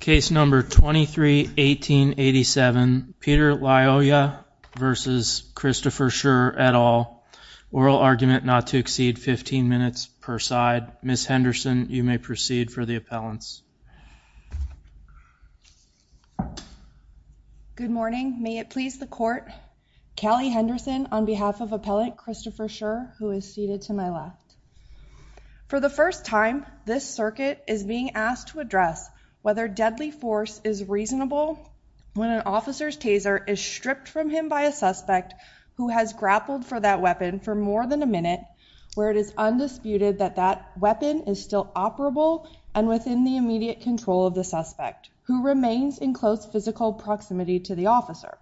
Case No. 23-1887, Peter Lyoya v. Christopher Schurr, et al., oral argument not to exceed 15 minutes per side. Ms. Henderson, you may proceed for the appellants. Good morning. May it please the court, Callie Henderson on behalf of appellant Christopher Schurr, who is seated to my left. For the first time, this circuit is being asked to address whether deadly force is reasonable when an officer's taser is stripped from him by a suspect who has grappled for that weapon for more than a minute, where it is undisputed that that weapon is still operable and within the immediate control of the suspect, who remains in close physical proximity to the officer.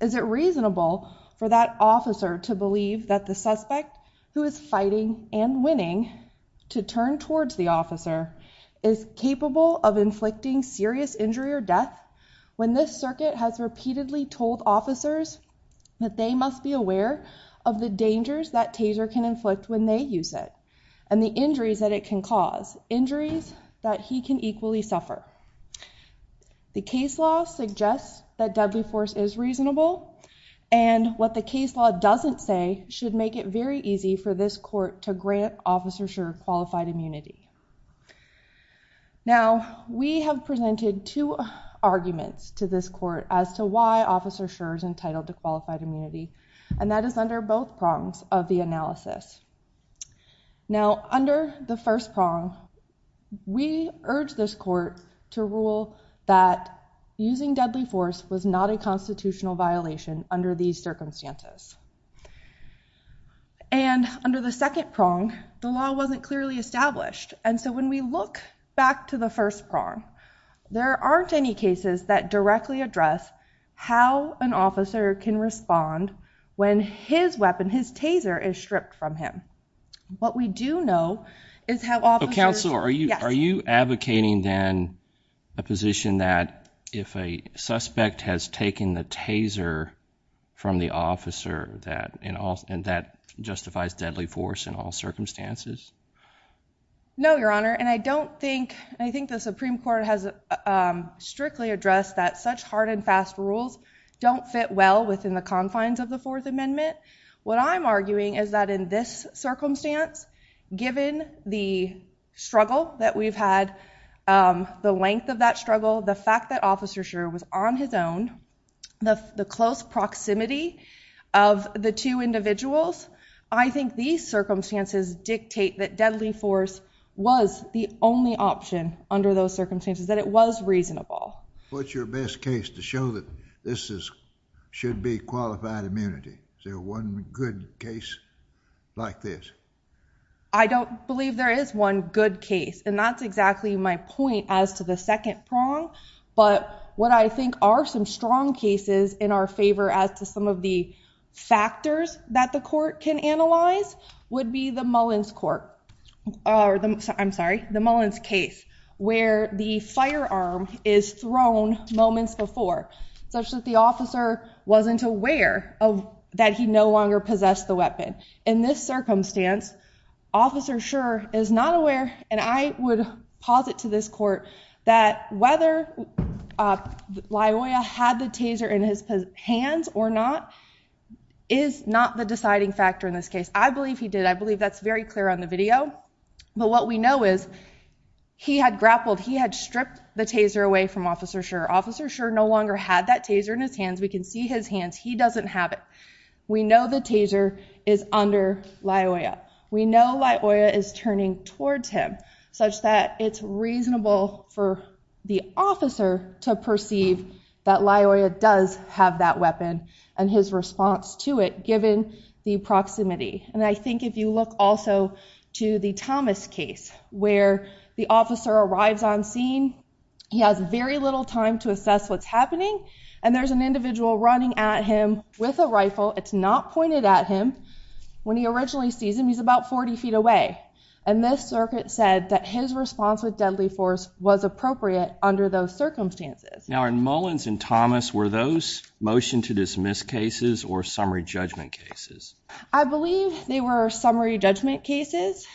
Is it reasonable for that officer to believe that the suspect, who is fighting and winning to turn towards the officer, is capable of inflicting serious injury or death when this circuit has repeatedly told officers that they must be aware of the dangers that taser can inflict when they use it and the injuries that it can cause, injuries that he can equally suffer? The case law suggests that deadly force is reasonable. And what the case law doesn't say should make it very easy for this court to grant Officer Schurr qualified immunity. Now, we have presented two arguments to this court as to why Officer Schurr is entitled to qualified immunity. And that is under both prongs of the analysis. Now, under the first prong, we urge this court to rule that using deadly force was not a constitutional violation under these circumstances. And under the second prong, the law wasn't clearly established. And so when we look back to the first prong, there aren't any cases that directly address how an officer can respond when his weapon, his taser, is stripped from him. What we do know is how officers- Counsel, are you advocating then a position that if a suspect has taken the taser from the officer, and that justifies deadly force in all circumstances? No, Your Honor. And I don't think, I think the Supreme Court has strictly addressed that such hard and fast rules don't fit well within the confines of the Fourth Amendment. What I'm arguing is that in this circumstance, given the struggle that we've had, the length of that struggle, the fact that Officer Schreuer was on his own, the close proximity of the two individuals, I think these circumstances dictate that deadly force was the only option under those circumstances, that it was reasonable. What's your best case to show that this should be qualified immunity? Is there one good case like this? I don't believe there is one good case. And that's exactly my point as to the second prong. But what I think are some strong cases in our favor as to some of the factors that the court can analyze would be the Mullins case, where the firearm is thrown moments before, such that the officer wasn't aware that he no longer possessed the weapon. In this circumstance, Officer Schreuer is not aware, and I would posit to this court that whether Laoya had the taser in his hands or not is not the deciding factor in this case. I believe he did. I believe that's very clear on the video. But what we know is he had grappled. He had stripped the taser away from Officer Schreuer. Officer Schreuer no longer had that taser in his hands. We can see his hands. He doesn't have it. We know the taser is under Laoya. We know Laoya is turning towards him, such that it's reasonable for the officer to perceive that Laoya does have that weapon and his response to it, given the proximity. And I think if you look also to the Thomas case, where the officer arrives on scene, he has very little time to assess what's happening. And there's an individual running at him with a rifle. It's not pointed at him. When he originally sees him, he's about 40 feet away. And this circuit said that his response with deadly force was appropriate under those circumstances. Now, in Mullins and Thomas, were those motion-to-dismiss cases or summary judgment cases? I believe they were summary judgment cases.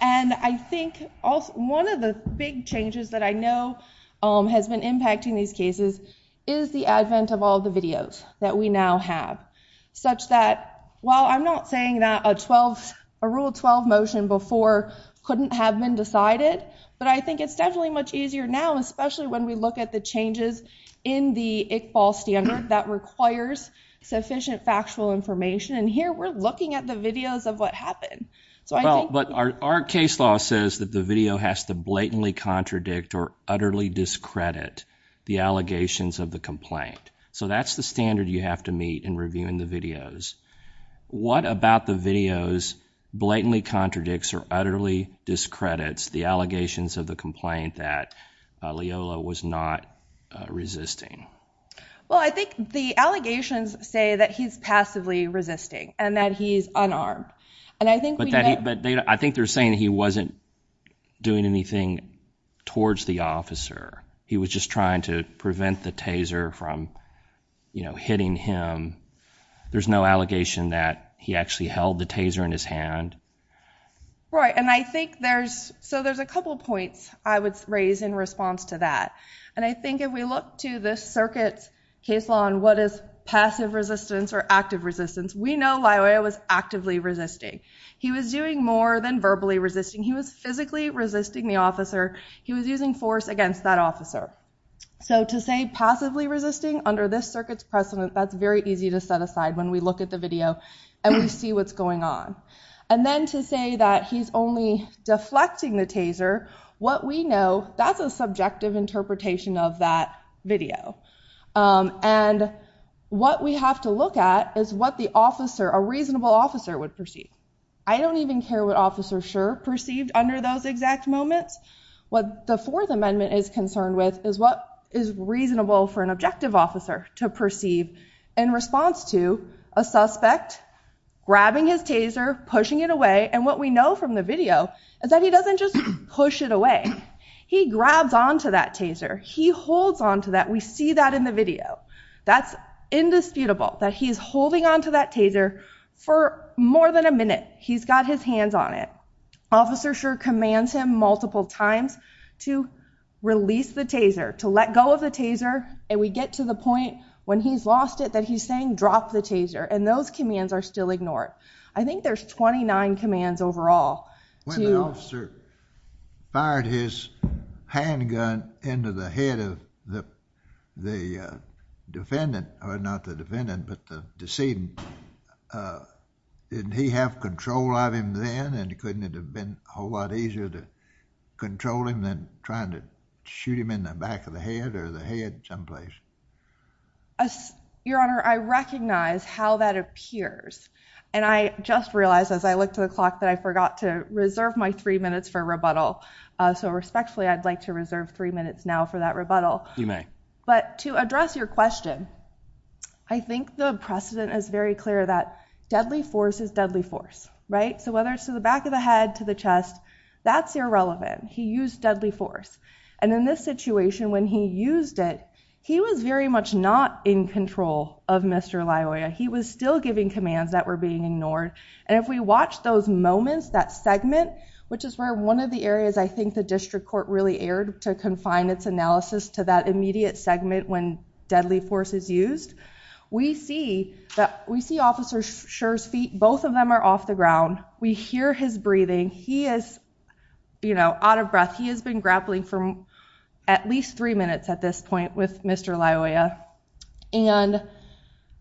And I think one of the big changes that I know has been impacting these cases is the advent of all the videos that we now have, such that, while I'm not saying that a Rule 12 motion before couldn't have been decided, but I think it's definitely much easier now, especially when we look at the changes in the Iqbal standard that requires sufficient factual information. And here, we're looking at the videos of what happened. But our case law says that the video has to blatantly contradict or utterly discredit the allegations of the complaint. So that's the standard you have to meet in reviewing the videos. What about the videos blatantly contradicts or utterly discredits the allegations of the complaint that Leola was not resisting? Well, I think the allegations say that he's passively resisting and that he's unarmed. And I think we know- But I think they're saying he wasn't doing anything towards the officer. He was just trying to prevent the taser from hitting him. There's no allegation that he actually held the taser in his hand. Right, and I think there's, so there's a couple points I would raise in response to that. And I think if we look to this circuit's case law on what is passive resistance or active resistance, we know Leola was actively resisting. He was doing more than verbally resisting. He was physically resisting the officer. He was using force against that officer. So to say passively resisting under this circuit's precedent, that's very easy to set aside when we look at the video and we see what's going on. And then to say that he's only deflecting the taser, what we know, that's a subjective interpretation of that video. And what we have to look at is what the officer, a reasonable officer, would perceive. I don't even care what Officer Scherr perceived under those exact moments. What the Fourth Amendment is concerned with is what is reasonable for an objective officer to perceive in response to a suspect grabbing his taser, pushing it away, and what we know from the video is that he doesn't just push it away. He grabs onto that taser. He holds onto that. We see that in the video. That's indisputable, that he's holding onto that taser for more than a minute. He's got his hands on it. Officer Scherr commands him multiple times to release the taser, to let go of the taser, and we get to the point when he's lost it that he's saying, drop the taser, and those commands are still ignored. I think there's 29 commands overall to- When the officer fired his handgun into the head of the defendant, or not the defendant, but the decedent, didn't he have control of him then and couldn't it have been a whole lot easier to control him than trying to shoot him in the back of the head or the head someplace? Your Honor, I recognize how that appears, and I just realized as I looked at the clock that I forgot to reserve my three minutes for rebuttal, so respectfully, I'd like to reserve three minutes now for that rebuttal. You may. But to address your question, I think the precedent is very clear that deadly force is deadly force, right? So whether it's to the back of the head, to the chest, that's irrelevant. He used deadly force. And in this situation, when he used it, he was very much not in control of Mr. Laoya. He was still giving commands that were being ignored. And if we watch those moments, that segment, which is where one of the areas I think the district court really erred to confine its analysis to that immediate segment when deadly force is used, we see Officer Scherr's feet, both of them are off the ground. We hear his breathing. He is out of breath. He has been grappling for at least three minutes at this point with Mr. Laoya, and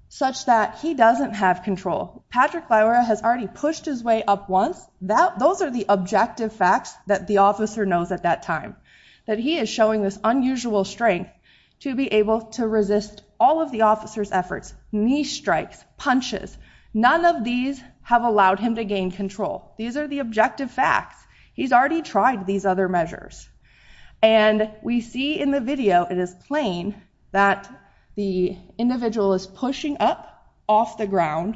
such that he doesn't have control. Patrick Laoya has already pushed his way up once. Those are the objective facts that the officer knows at that time, that he is showing this unusual strength to be able to resist all of the officer's efforts, knee strikes, punches. None of these have allowed him to gain control. These are the objective facts. He's already tried these other measures. And we see in the video, it is plain, that the individual is pushing up off the ground,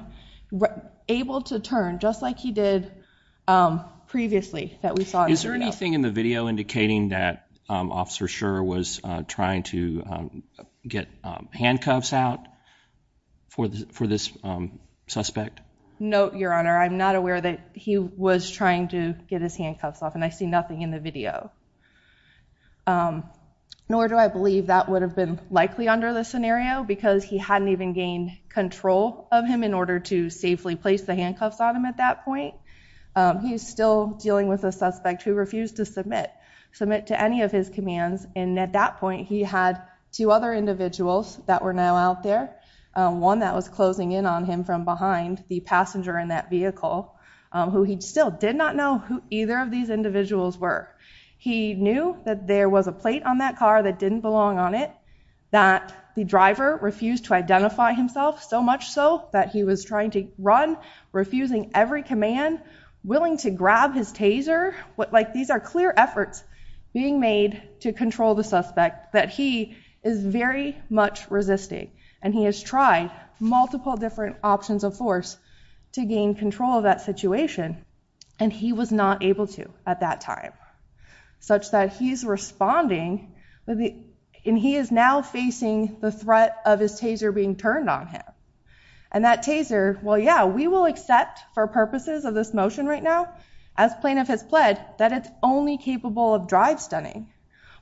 able to turn, just like he did previously that we saw in the video. Is there anything in the video indicating that Officer Scherr was trying to get handcuffs out for this, suspect? No, Your Honor. I'm not aware that he was trying to get his handcuffs off, and I see nothing in the video. Nor do I believe that would have been likely under this scenario, because he hadn't even gained control of him in order to safely place the handcuffs on him at that point. He's still dealing with a suspect who refused to submit, submit to any of his commands. And at that point, he had two other individuals that were now out there. One that was closing in on him from behind, the passenger in that vehicle, who he still did not know who either of these individuals were. He knew that there was a plate on that car that didn't belong on it, that the driver refused to identify himself, so much so that he was trying to run, refusing every command, willing to grab his taser. These are clear efforts being made to control the suspect that he is very much resisting. And he has tried multiple different options of force to gain control of that situation, and he was not able to at that time. Such that he's responding, and he is now facing the threat of his taser being turned on him. And that taser, well yeah, we will accept for purposes of this motion right now, as plaintiff has pled, that it's only capable of drive stunning.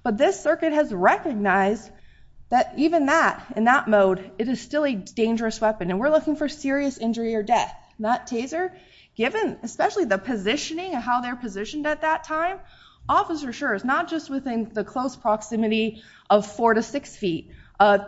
But this circuit has recognized that even that, in that mode, it is still a dangerous weapon, and we're looking for serious injury or death. That taser, given especially the positioning of how they're positioned at that time, officer sure is not just within the close proximity of four to six feet,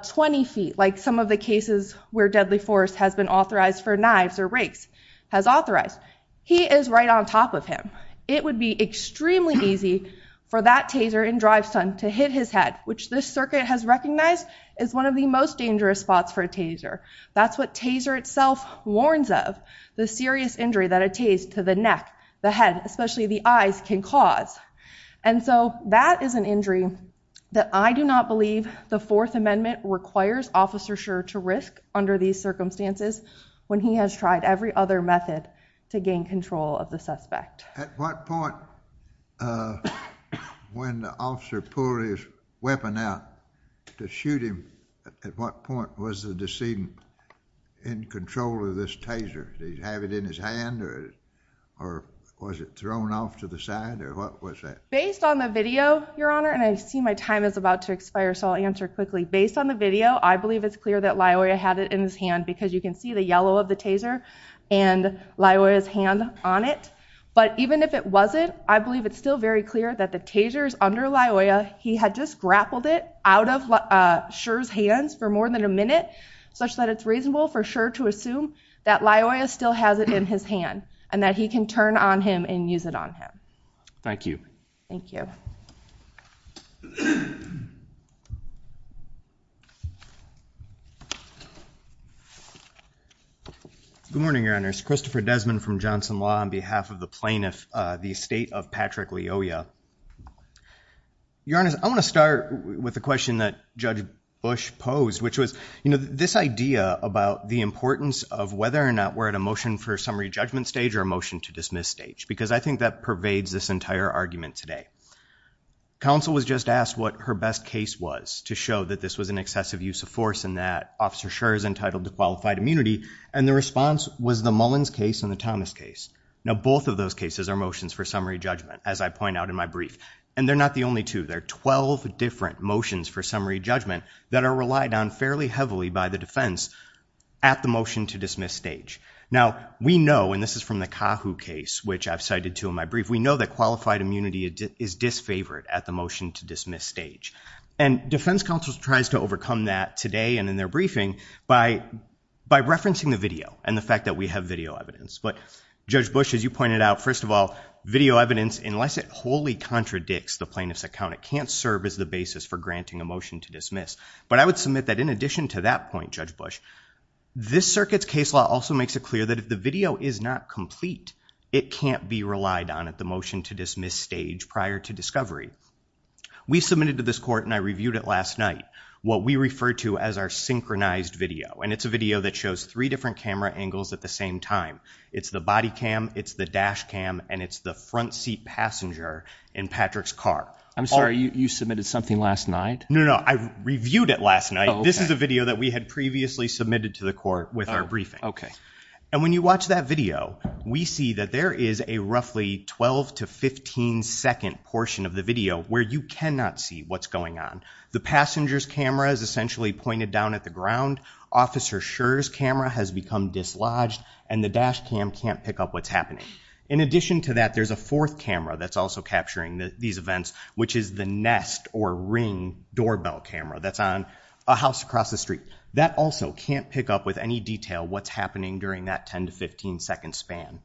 20 feet, like some of the cases where deadly force has been authorized for knives or rakes, has authorized. He is right on top of him. It would be extremely easy for that taser in drive stun to hit his head, which this circuit has recognized is one of the most dangerous spots for a taser. That's what taser itself warns of, the serious injury that a taser to the neck, the head, especially the eyes can cause. And so that is an injury that I do not believe the fourth amendment requires officer sure to risk under these circumstances, when he has tried every other method to gain control of the suspect. At what point, when the officer pulled his weapon out to shoot him, at what point was the decedent in control of this taser? Did he have it in his hand, or was it thrown off to the side, or what was that? Based on the video, Your Honor, and I see my time is about to expire, so I'll answer quickly. Based on the video, I believe it's clear that Loyola had it in his hand, because you can see the yellow of the taser and Loyola's hand on it. But even if it wasn't, I believe it's still very clear that the taser's under Loyola, he had just grappled it out of Sher's hands for more than a minute, such that it's reasonable for Sher to assume that Loyola still has it in his hand, and that he can turn on him and use it on him. Thank you. Thank you. Good morning, Your Honors. Christopher Desmond from Johnson Law on behalf of the plaintiff, the estate of Patrick Loyola. Your Honors, I want to start with the question that Judge Bush posed, which was this idea about the importance of whether or not we're at a motion for summary judgment stage or a motion to dismiss stage, because I think that pervades this entire argument today. Counsel was just asked what her best case was to show that this was an excessive use of force and that Officer Sher is entitled to qualified immunity, and the response was the Mullins case and the Thomas case. Now, both of those cases are motions for summary judgment, as I point out in my brief, and they're not the only two. There are 12 different motions for summary judgment that are relied on fairly heavily by the defense at the motion to dismiss stage. Now, we know, and this is from the CAHOO case, which I've cited to in my brief, we know that qualified immunity is disfavored at the motion to dismiss stage, and defense counsel tries to overcome that today and in their briefing by referencing the video and the fact that we have video evidence. But Judge Bush, as you pointed out, first of all, video evidence, unless it wholly contradicts the plaintiff's account, it can't serve as the basis for granting a motion to dismiss. But I would submit that in addition to that point, Judge Bush, this circuit's case law also makes it clear that if the video is not complete, it can't be relied on at the motion to dismiss stage prior to discovery. We submitted to this court, and I reviewed it last night, what we refer to as our synchronized video. And it's a video that shows three different camera angles at the same time. It's the body cam, it's the dash cam, and it's the front seat passenger in Patrick's car. I'm sorry, you submitted something last night? No, no, I reviewed it last night. This is a video that we had previously submitted to the court with our briefing. And when you watch that video, we see that there is a roughly 12 to 15 second portion of the video where you cannot see what's going on. The passenger's camera is essentially pointed down at the ground, Officer Scherr's camera has become dislodged, and the dash cam can't pick up what's happening. In addition to that, there's a fourth camera that's also capturing these events, which is the nest or ring doorbell camera that's on a house across the street. That also can't pick up with any detail what's happening during that 10 to 15 second span.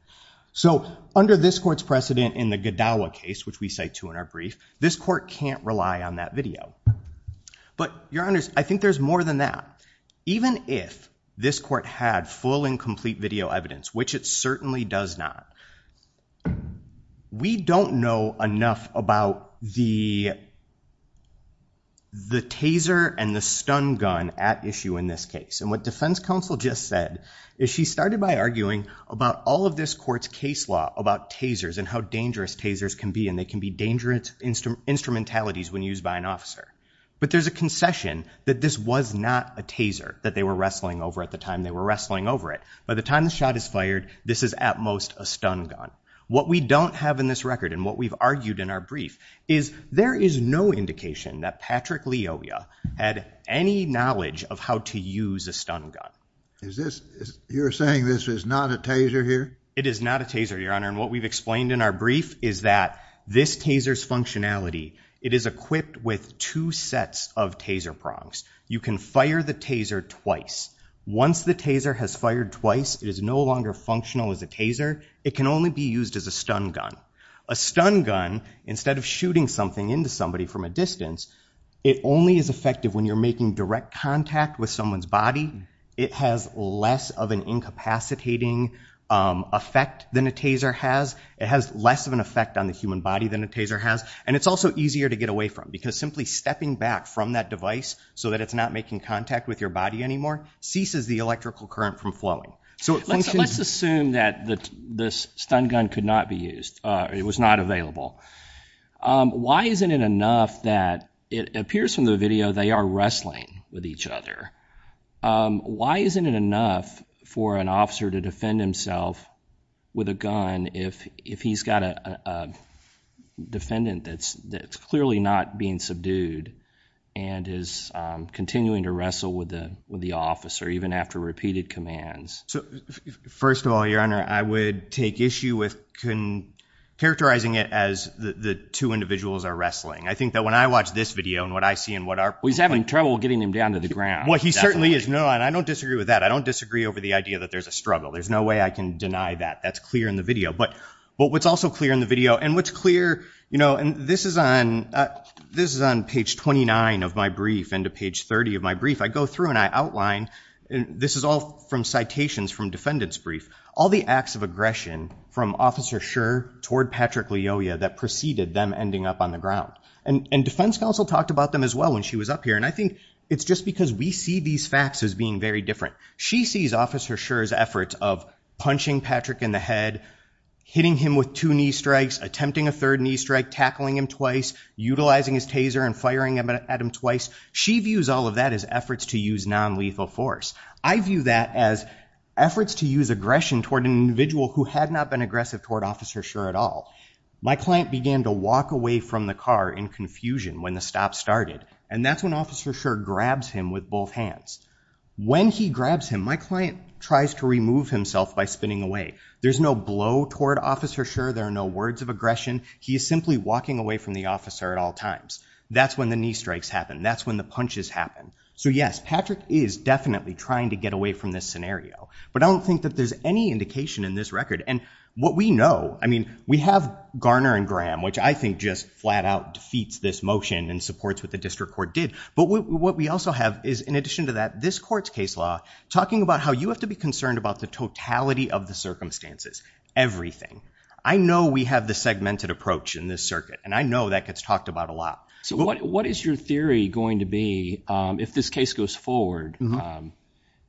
So under this court's precedent in the Gadawa case, which we cite to in our brief, this court can't rely on that video. But your honors, I think there's more than that. Even if this court had full and complete video evidence, which it certainly does not, we don't know enough about the taser and the stun gun at issue in this case. And what defense counsel just said is she started by arguing about all of this court's case law about tasers and how dangerous tasers can be, and they can be dangerous instrumentalities when used by an officer. But there's a concession that this was not a taser that they were wrestling over at the time they were wrestling over it. By the time the shot is fired, this is at most a stun gun. What we don't have in this record, and what we've argued in our brief, is there is no indication that Patrick Leovia had any knowledge of how to use a stun gun. Is this, you're saying this is not a taser here? It is not a taser, your honor. And what we've explained in our brief is that this taser's functionality, it is equipped with two sets of taser prongs. You can fire the taser twice. Once the taser has fired twice, it is no longer functional as a taser. It can only be used as a stun gun. A stun gun, instead of shooting something into somebody from a distance, it only is effective when you're making direct contact with someone's body. It has less of an incapacitating effect than a taser has. It has less of an effect on the human body than a taser has. And it's also easier to get away from, because simply stepping back from that device so that it's not making contact with your body anymore ceases the electrical current from flowing. So it functions- Let's assume that this stun gun could not be used. It was not available. Why isn't it enough that it appears from the video they are wrestling with each other? Why isn't it enough for an officer to defend himself with a gun if he's got a defendant that's clearly not being subdued and is continuing to wrestle with the officer, even after repeated commands? So, first of all, Your Honor, I would take issue with characterizing it as the two individuals are wrestling. I think that when I watch this video and what I see and what our- Well, he's having trouble getting him down to the ground. Well, he certainly is. No, and I don't disagree with that. I don't disagree over the idea that there's a struggle. There's no way I can deny that. That's clear in the video. But what's also clear in the video, and what's clear, you know, and this is on page 29 of my brief and to page 30 of my brief. I go through and I outline, and this is all from citations from defendant's brief, all the acts of aggression from Officer Scherr toward Patrick Leoia that preceded them ending up on the ground. And defense counsel talked about them as well when she was up here. And I think it's just because we see these facts as being very different. She sees Officer Scherr's efforts of punching Patrick in the head, hitting him with two knee strikes, attempting a third knee strike, tackling him twice, utilizing his taser and firing at him twice. She views all of that as efforts to use non-lethal force. I view that as efforts to use aggression toward an individual who had not been aggressive toward Officer Scherr at all. My client began to walk away from the car in confusion when the stop started. And that's when Officer Scherr grabs him with both hands. When he grabs him, my client tries to remove himself by spinning away. There's no blow toward Officer Scherr. There are no words of aggression. He is simply walking away from the officer at all times. That's when the knee strikes happen. That's when the punches happen. So yes, Patrick is definitely trying to get away from this scenario. But I don't think that there's any indication in this record. And what we know, I mean, we have Garner and Graham, which I think just flat out defeats this motion and supports what the district court did. But what we also have is, in addition to that, this court's case law talking about how you have to be concerned about the totality of the circumstances. Everything. I know we have the segmented approach in this circuit. And I know that gets talked about a lot. So what is your theory going to be if this case goes forward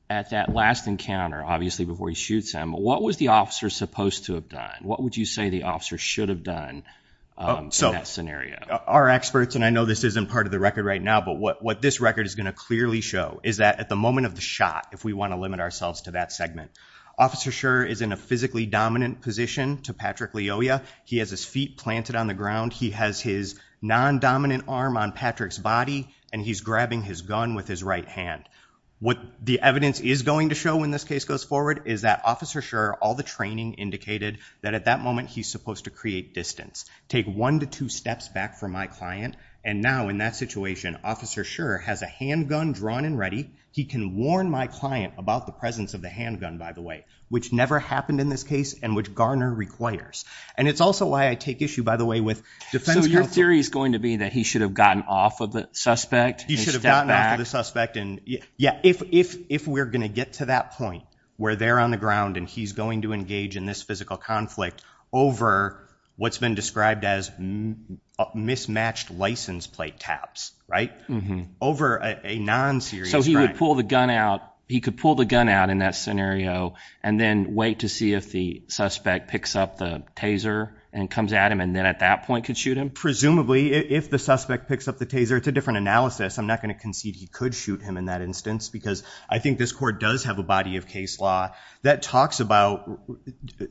at that last encounter, obviously before he shoots him, what was the officer supposed to have done? What would you say the officer should have done in that scenario? Our experts, and I know this isn't part of the record right now, but what this record is going to clearly show is that at the moment of the shot, if we want to limit ourselves to that segment, Officer Scherr is in a physically dominant position to Patrick Leoya. He has his feet planted on the ground. He has his non-dominant arm on Patrick's body, and he's grabbing his gun with his right hand. What the evidence is going to show when this case goes forward is that Officer Scherr, all the training indicated that at that moment, he's supposed to create distance. Take one to two steps back from my client. And now in that situation, Officer Scherr has a handgun drawn and ready. He can warn my client about the presence of the handgun, by the way, which never happened in this case and which Garner requires. And it's also why I take issue, by the way, with defense counsel. So your theory is going to be that he should have gotten off of the suspect and stepped back? He should have gotten off of the suspect, and yeah, if we're gonna get to that point where they're on the ground and he's going to engage in this physical conflict over what's been described as mismatched license plate taps, right? Over a non-serious crime. So he would pull the gun out, he could pull the gun out in that scenario and then wait to see if the suspect picks up the taser and comes at him and then at that point could shoot him? Presumably, if the suspect picks up the taser. It's a different analysis. I'm not gonna concede he could shoot him in that instance because I think this court does have a body of case law that talks about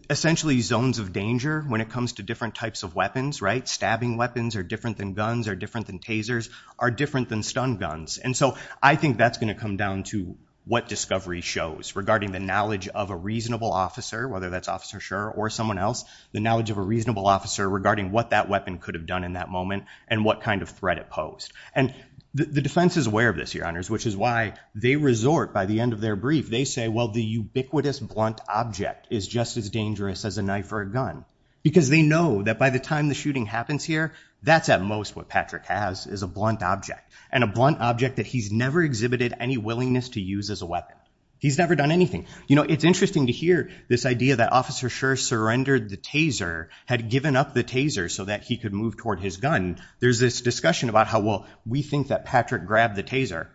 essentially zones of danger when it comes to different types of weapons, right? Stabbing weapons are different than guns, are different than tasers, are different than stun guns. And so I think that's gonna come down to what discovery shows regarding the knowledge of a reasonable officer, whether that's Officer Schur or someone else, the knowledge of a reasonable officer regarding what that weapon could have done in that moment and what kind of threat it posed. And the defense is aware of this, your honors, which is why they resort by the end of their brief, they say, well, the ubiquitous blunt object is just as dangerous as a knife or a gun because they know that by the time the shooting happens here that's at most what Patrick has is a blunt object and a blunt object that he's never exhibited any willingness to use as a weapon. He's never done anything. You know, it's interesting to hear this idea that Officer Schur surrendered the taser, had given up the taser so that he could move toward his gun. There's this discussion about how, well, we think that Patrick grabbed the taser.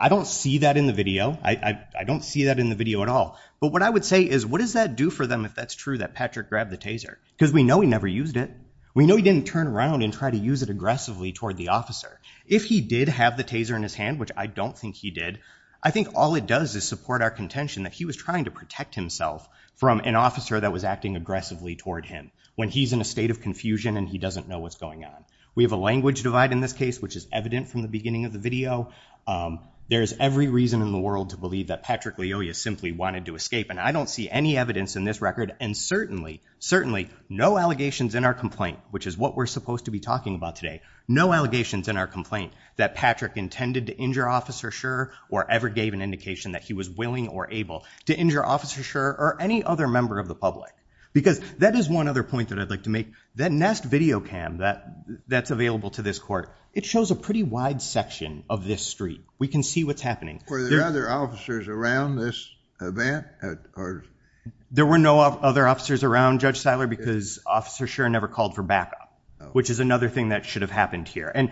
I don't see that in the video. I don't see that in the video at all. But what I would say is, what does that do for them if that's true that Patrick grabbed the taser? Because we know he never used it. We know he didn't turn around and try to use it aggressively toward the officer. If he did have the taser in his hand, which I don't think he did, I think all it does is support our contention that he was trying to protect himself from an officer that was acting aggressively toward him when he's in a state of confusion and he doesn't know what's going on. We have a language divide in this case, which is evident from the beginning of the video. There is every reason in the world to believe that Patrick Leoya simply wanted to escape. And I don't see any evidence in this record. And certainly, certainly, no allegations in our complaint, which is what we're supposed to be talking about today, no allegations in our complaint that Patrick intended to injure Officer Schur or ever gave an indication that he was willing or able to injure Officer Schur or any other member of the public. Because that is one other point that I'd like to make, that Nest video cam that's available to this court, it shows a pretty wide section of this street. We can see what's happening. Were there other officers around this event? There were no other officers around, Judge Siler, because Officer Schur never called for backup, which is another thing that should have happened here. And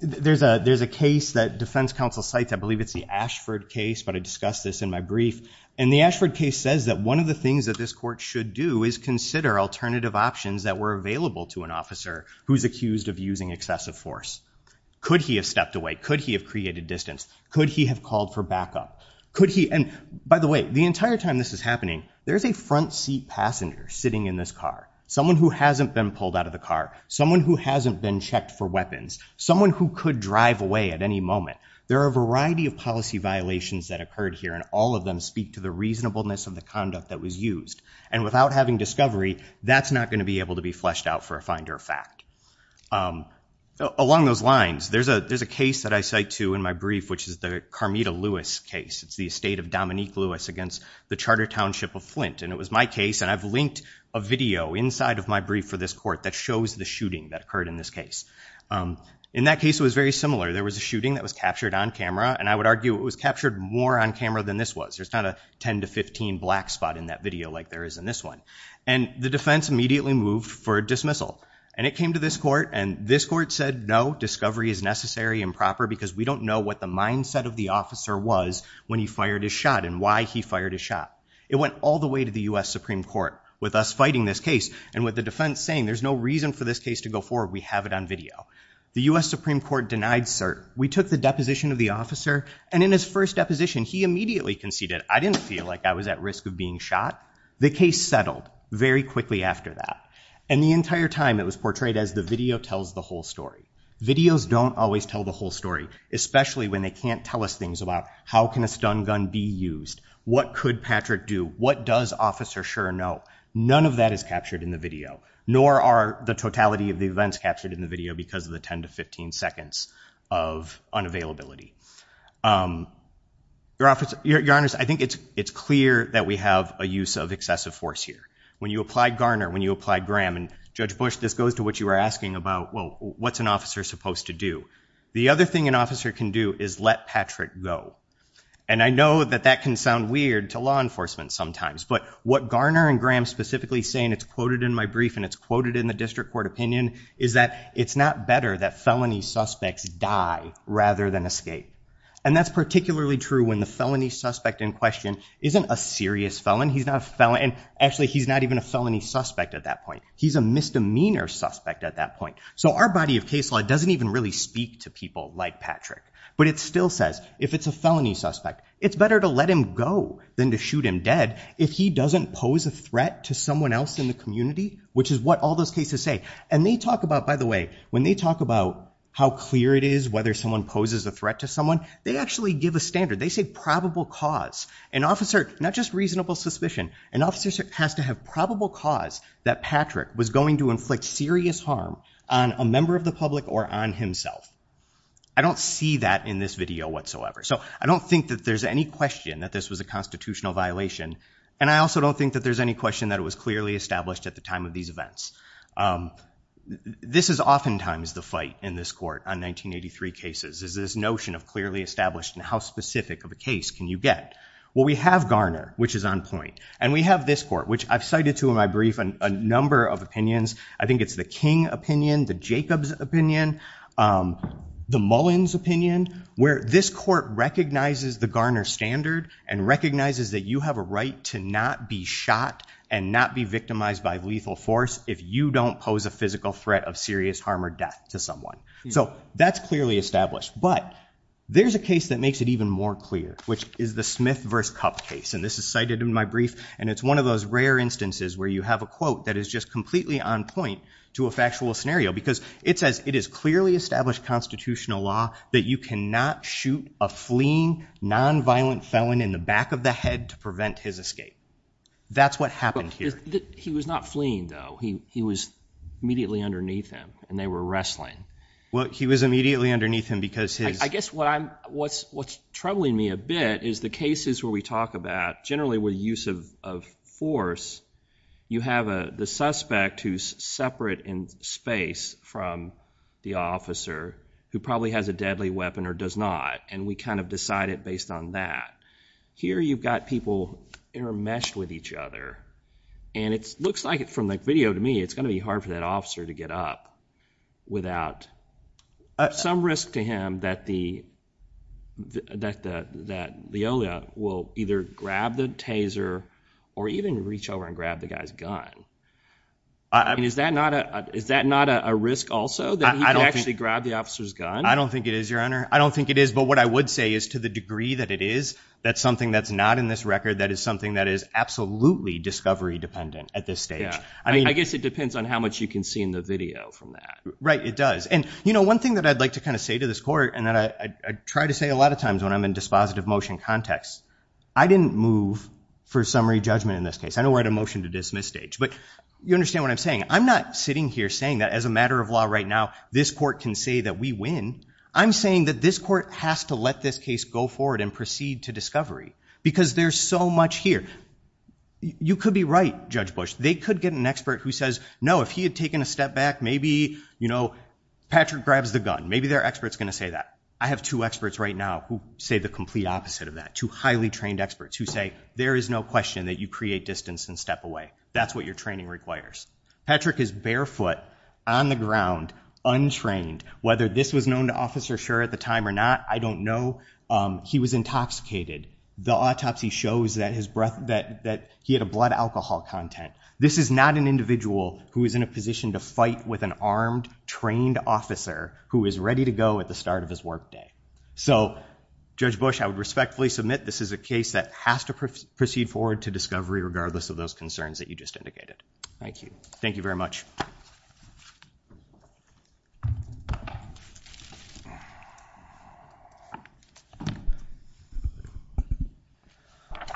there's a case that defense counsel cites, I believe it's the Ashford case, but I discussed this in my brief. And the Ashford case says that one of the things that this court should do is consider alternative options that were available to an officer who's accused of using excessive force. Could he have stepped away? Could he have created distance? Could he have called for backup? And by the way, the entire time this is happening, there's a front seat passenger sitting in this car, someone who hasn't been pulled out of the car, someone who hasn't been checked for weapons, someone who could drive away at any moment. There are a variety of policy violations that occurred here, and all of them speak to the reasonableness of the conduct that was used. And without having discovery, that's not going to be able to be fleshed out for a finder of fact. Along those lines, there's a case that I cite to in my brief, which is the Carmita Lewis case. It's the estate of Dominique Lewis against the charter township of Flint. And it was my case, and I've linked a video inside of my brief for this court that shows the shooting that occurred in this case. In that case, it was very similar. There was a shooting that was captured on camera, and I would argue it was captured more on camera than this was. There's not a 10 to 15 black spot in that video like there is in this one. And the defense immediately moved for a dismissal. And it came to this court, and this court said, no, discovery is necessary and proper because we don't know what the mindset of the officer was when he fired his shot and why he fired his shot. It went all the way to the US Supreme Court with us fighting this case and with the defense saying, there's no reason for this case to go forward. We have it on video. The US Supreme Court denied cert. We took the deposition of the officer, and in his first deposition, he immediately conceded, I didn't feel like I was at risk of being shot. The case settled very quickly after that. And the entire time, it was portrayed as the video tells the whole story. Videos don't always tell the whole story, especially when they can't tell us things about how can a stun gun be used? What could Patrick do? What does Officer Schur know? None of that is captured in the video, nor are the totality of the events captured in the video because of the 10 to 15 seconds of unavailability. Your Honor, I think it's clear that we have a use of excessive force here. When you apply Garner, when you apply Graham, and Judge Bush, this goes to what you were asking about, well, what's an officer supposed to do? The other thing an officer can do is let Patrick go. And I know that that can sound weird to law enforcement sometimes, but what Garner and Graham specifically say, and it's quoted in my brief, and it's quoted in the district court opinion, is that it's not better that felony suspects die rather than escape. And that's particularly true when the felony suspect in question isn't a serious felon. He's not a felon, and actually, he's not even a felony suspect at that point. He's a misdemeanor suspect at that point. So our body of case law doesn't even really speak to people like Patrick. But it still says, if it's a felony suspect, it's better to let him go than to shoot him dead if he doesn't pose a threat to someone else in the community, which is what all those cases say. And they talk about, by the way, when they talk about how clear it is whether someone poses a threat to someone, they actually give a standard. They say probable cause. An officer, not just reasonable suspicion, an officer has to have probable cause that Patrick was going to inflict serious harm on a member of the public or on himself. I don't see that in this video whatsoever. So I don't think that there's any question that this was a constitutional violation. And I also don't think that there's any question that it was clearly established at the time of these events. This is oftentimes the fight in this court on 1983 cases, is this notion of clearly established and how specific of a case can you get? Well, we have Garner, which is on point. And we have this court, which I've cited to in my brief a number of opinions. I think it's the King opinion, the Jacobs opinion, the Mullins opinion, where this court recognizes the Garner standard and recognizes that you have a right to not be shot and not be victimized by lethal force if you don't pose a physical threat of serious harm or death to someone. So that's clearly established. But there's a case that makes it even more clear, which is the Smith v. Cupp case. And this is cited in my brief. And it's one of those rare instances where you have a quote that is just completely on point to a factual scenario. Because it says, it is clearly established constitutional law that you cannot shoot a fleeing, nonviolent felon in the back of the head to prevent his escape. That's what happened here. He was not fleeing, though. He was immediately underneath him. And they were wrestling. Well, he was immediately underneath him because his I guess what's troubling me a bit is the cases where we talk about, generally with use of force, you have the suspect who's separate in space from the officer who probably has a deadly weapon or does not. And we kind of decide it based on that. Here you've got people intermeshed with each other. And it looks like, from the video to me, it's going to be hard for that officer to get up without some risk to him that Leola will either grab the taser or even reach over and grab the guy's gun. Is that not a risk also, that he could actually grab the officer's gun? I don't think it is, Your Honor. I don't think it is. But what I would say is, to the degree that it is, that's something that's not in this record. That is something that is absolutely discovery dependent at this stage. I guess it depends on how much you can see in the video from that. Right, it does. And one thing that I'd like to say to this court, and that I try to say a lot of times when I'm in dispositive motion context, I didn't move for summary judgment in this case. I know we're at a motion to dismiss stage. But you understand what I'm saying. I'm not sitting here saying that, as a matter of law right now, this court can say that we win. I'm saying that this court has to let this case go forward and proceed to discovery. Because there's so much here. You could be right, Judge Bush. They could get an expert who says, no, if he had taken a step back, maybe Patrick grabs the gun. Maybe their expert's going to say that. I have two experts right now who say the complete opposite of that. Two highly trained experts who say, there is no question that you create distance and step away. That's what your training requires. Patrick is barefoot, on the ground, untrained. Whether this was known to Officer Scher at the time or not, I don't know. He was intoxicated. The autopsy shows that he had a blood alcohol content. This is not an individual who is in a position to fight with an armed, trained officer who is ready to go at the start of his work day. So Judge Bush, I would respectfully submit this is a case that has to proceed forward to discovery, regardless of those concerns that you just indicated. Thank you. Thank you very much.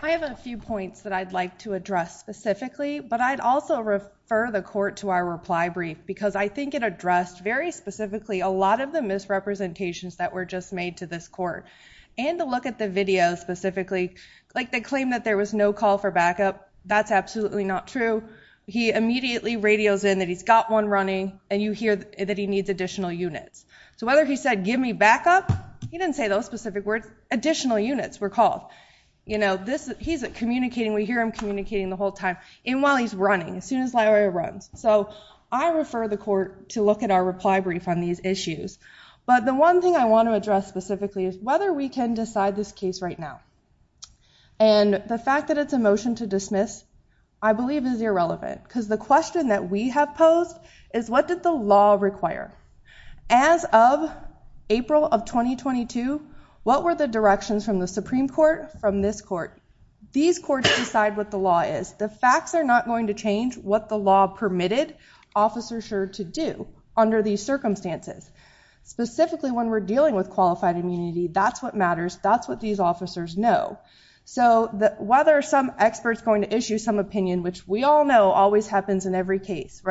I have a few points that I'd like to address specifically. But I'd also refer the court to our reply brief, because I think it addressed, very specifically, a lot of the misrepresentations that were just made to this court. And to look at the video, specifically, like they claim that there was no call for backup. That's absolutely not true. He immediately radios in that he's got one running, and you hear that he needs additional units. So whether he said, give me backup, he didn't say those specific words. Additional units were called. He's communicating. We hear him communicating the whole time, and while he's running, as soon as Larry runs. So I refer the court to look at our reply brief on these issues. But the one thing I want to address, specifically, is whether we can decide this case right now. And the fact that it's a motion to dismiss, I believe, is irrelevant. Because the question that we have posed is, what did the law require? As of April of 2022, what were the directions from the Supreme Court, from this court? These courts decide what the law is. The facts are not going to change what the law permitted Officer Scherr to do under these circumstances. Specifically, when we're dealing with qualified immunity, that's what matters. That's what these officers know. So whether some expert's going to issue some opinion, which we all know always happens in every case,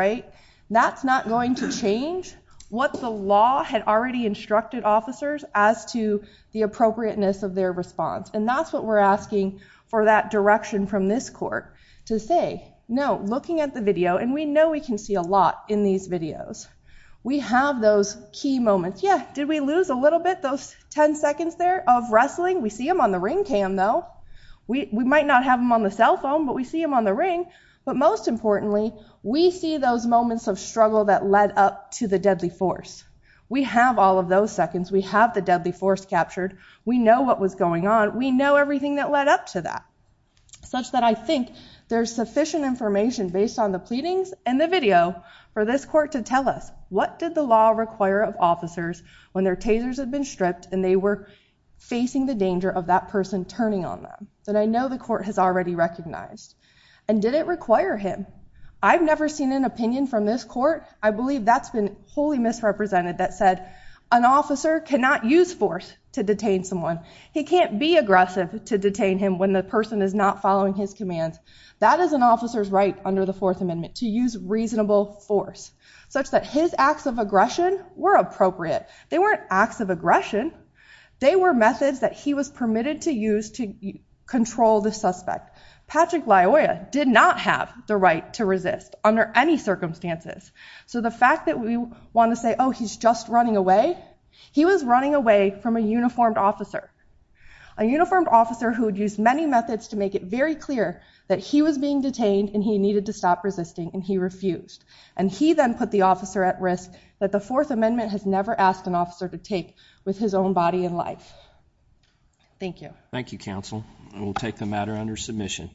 that's not going to change what the law had already instructed officers as to the appropriateness of their response. And that's what we're asking for that direction from this court, to say, no, looking at the video, and we know we can see a lot in these videos, we have those key moments. Yeah, did we lose a little bit, those 10 seconds there, of wrestling? We see them on the ring cam, though. We might not have them on the cell phone, but we see them on the ring. But most importantly, we see those moments of struggle that led up to the deadly force. We have all of those seconds. We have the deadly force captured. We know what was going on. We know everything that led up to that, such that I think there's sufficient information based on the pleadings and the video for this court to tell us, what did the law require of officers when their tasers had been stripped and they were facing the danger of that person turning on them that I know the court has already recognized? And did it require him? I've never seen an opinion from this court, I believe that's been wholly misrepresented, that said, an officer cannot use force to detain someone. He can't be aggressive to detain him when the person is not following his commands. That is an officer's right under the Fourth Amendment, to use reasonable force, such that his acts of aggression were appropriate. They weren't acts of aggression. They were methods that he was permitted to use to control the suspect. Patrick Laoya did not have the right to resist under any circumstances. So the fact that we want to say, oh, he's just running away, he was running away from a uniformed officer. A uniformed officer who'd used many methods to make it very clear that he was being detained and he needed to stop resisting and he refused. And he then put the officer at risk that the Fourth Amendment has never asked an officer to take with his own body and life. Thank you. Thank you, counsel. And we'll take the matter under submission.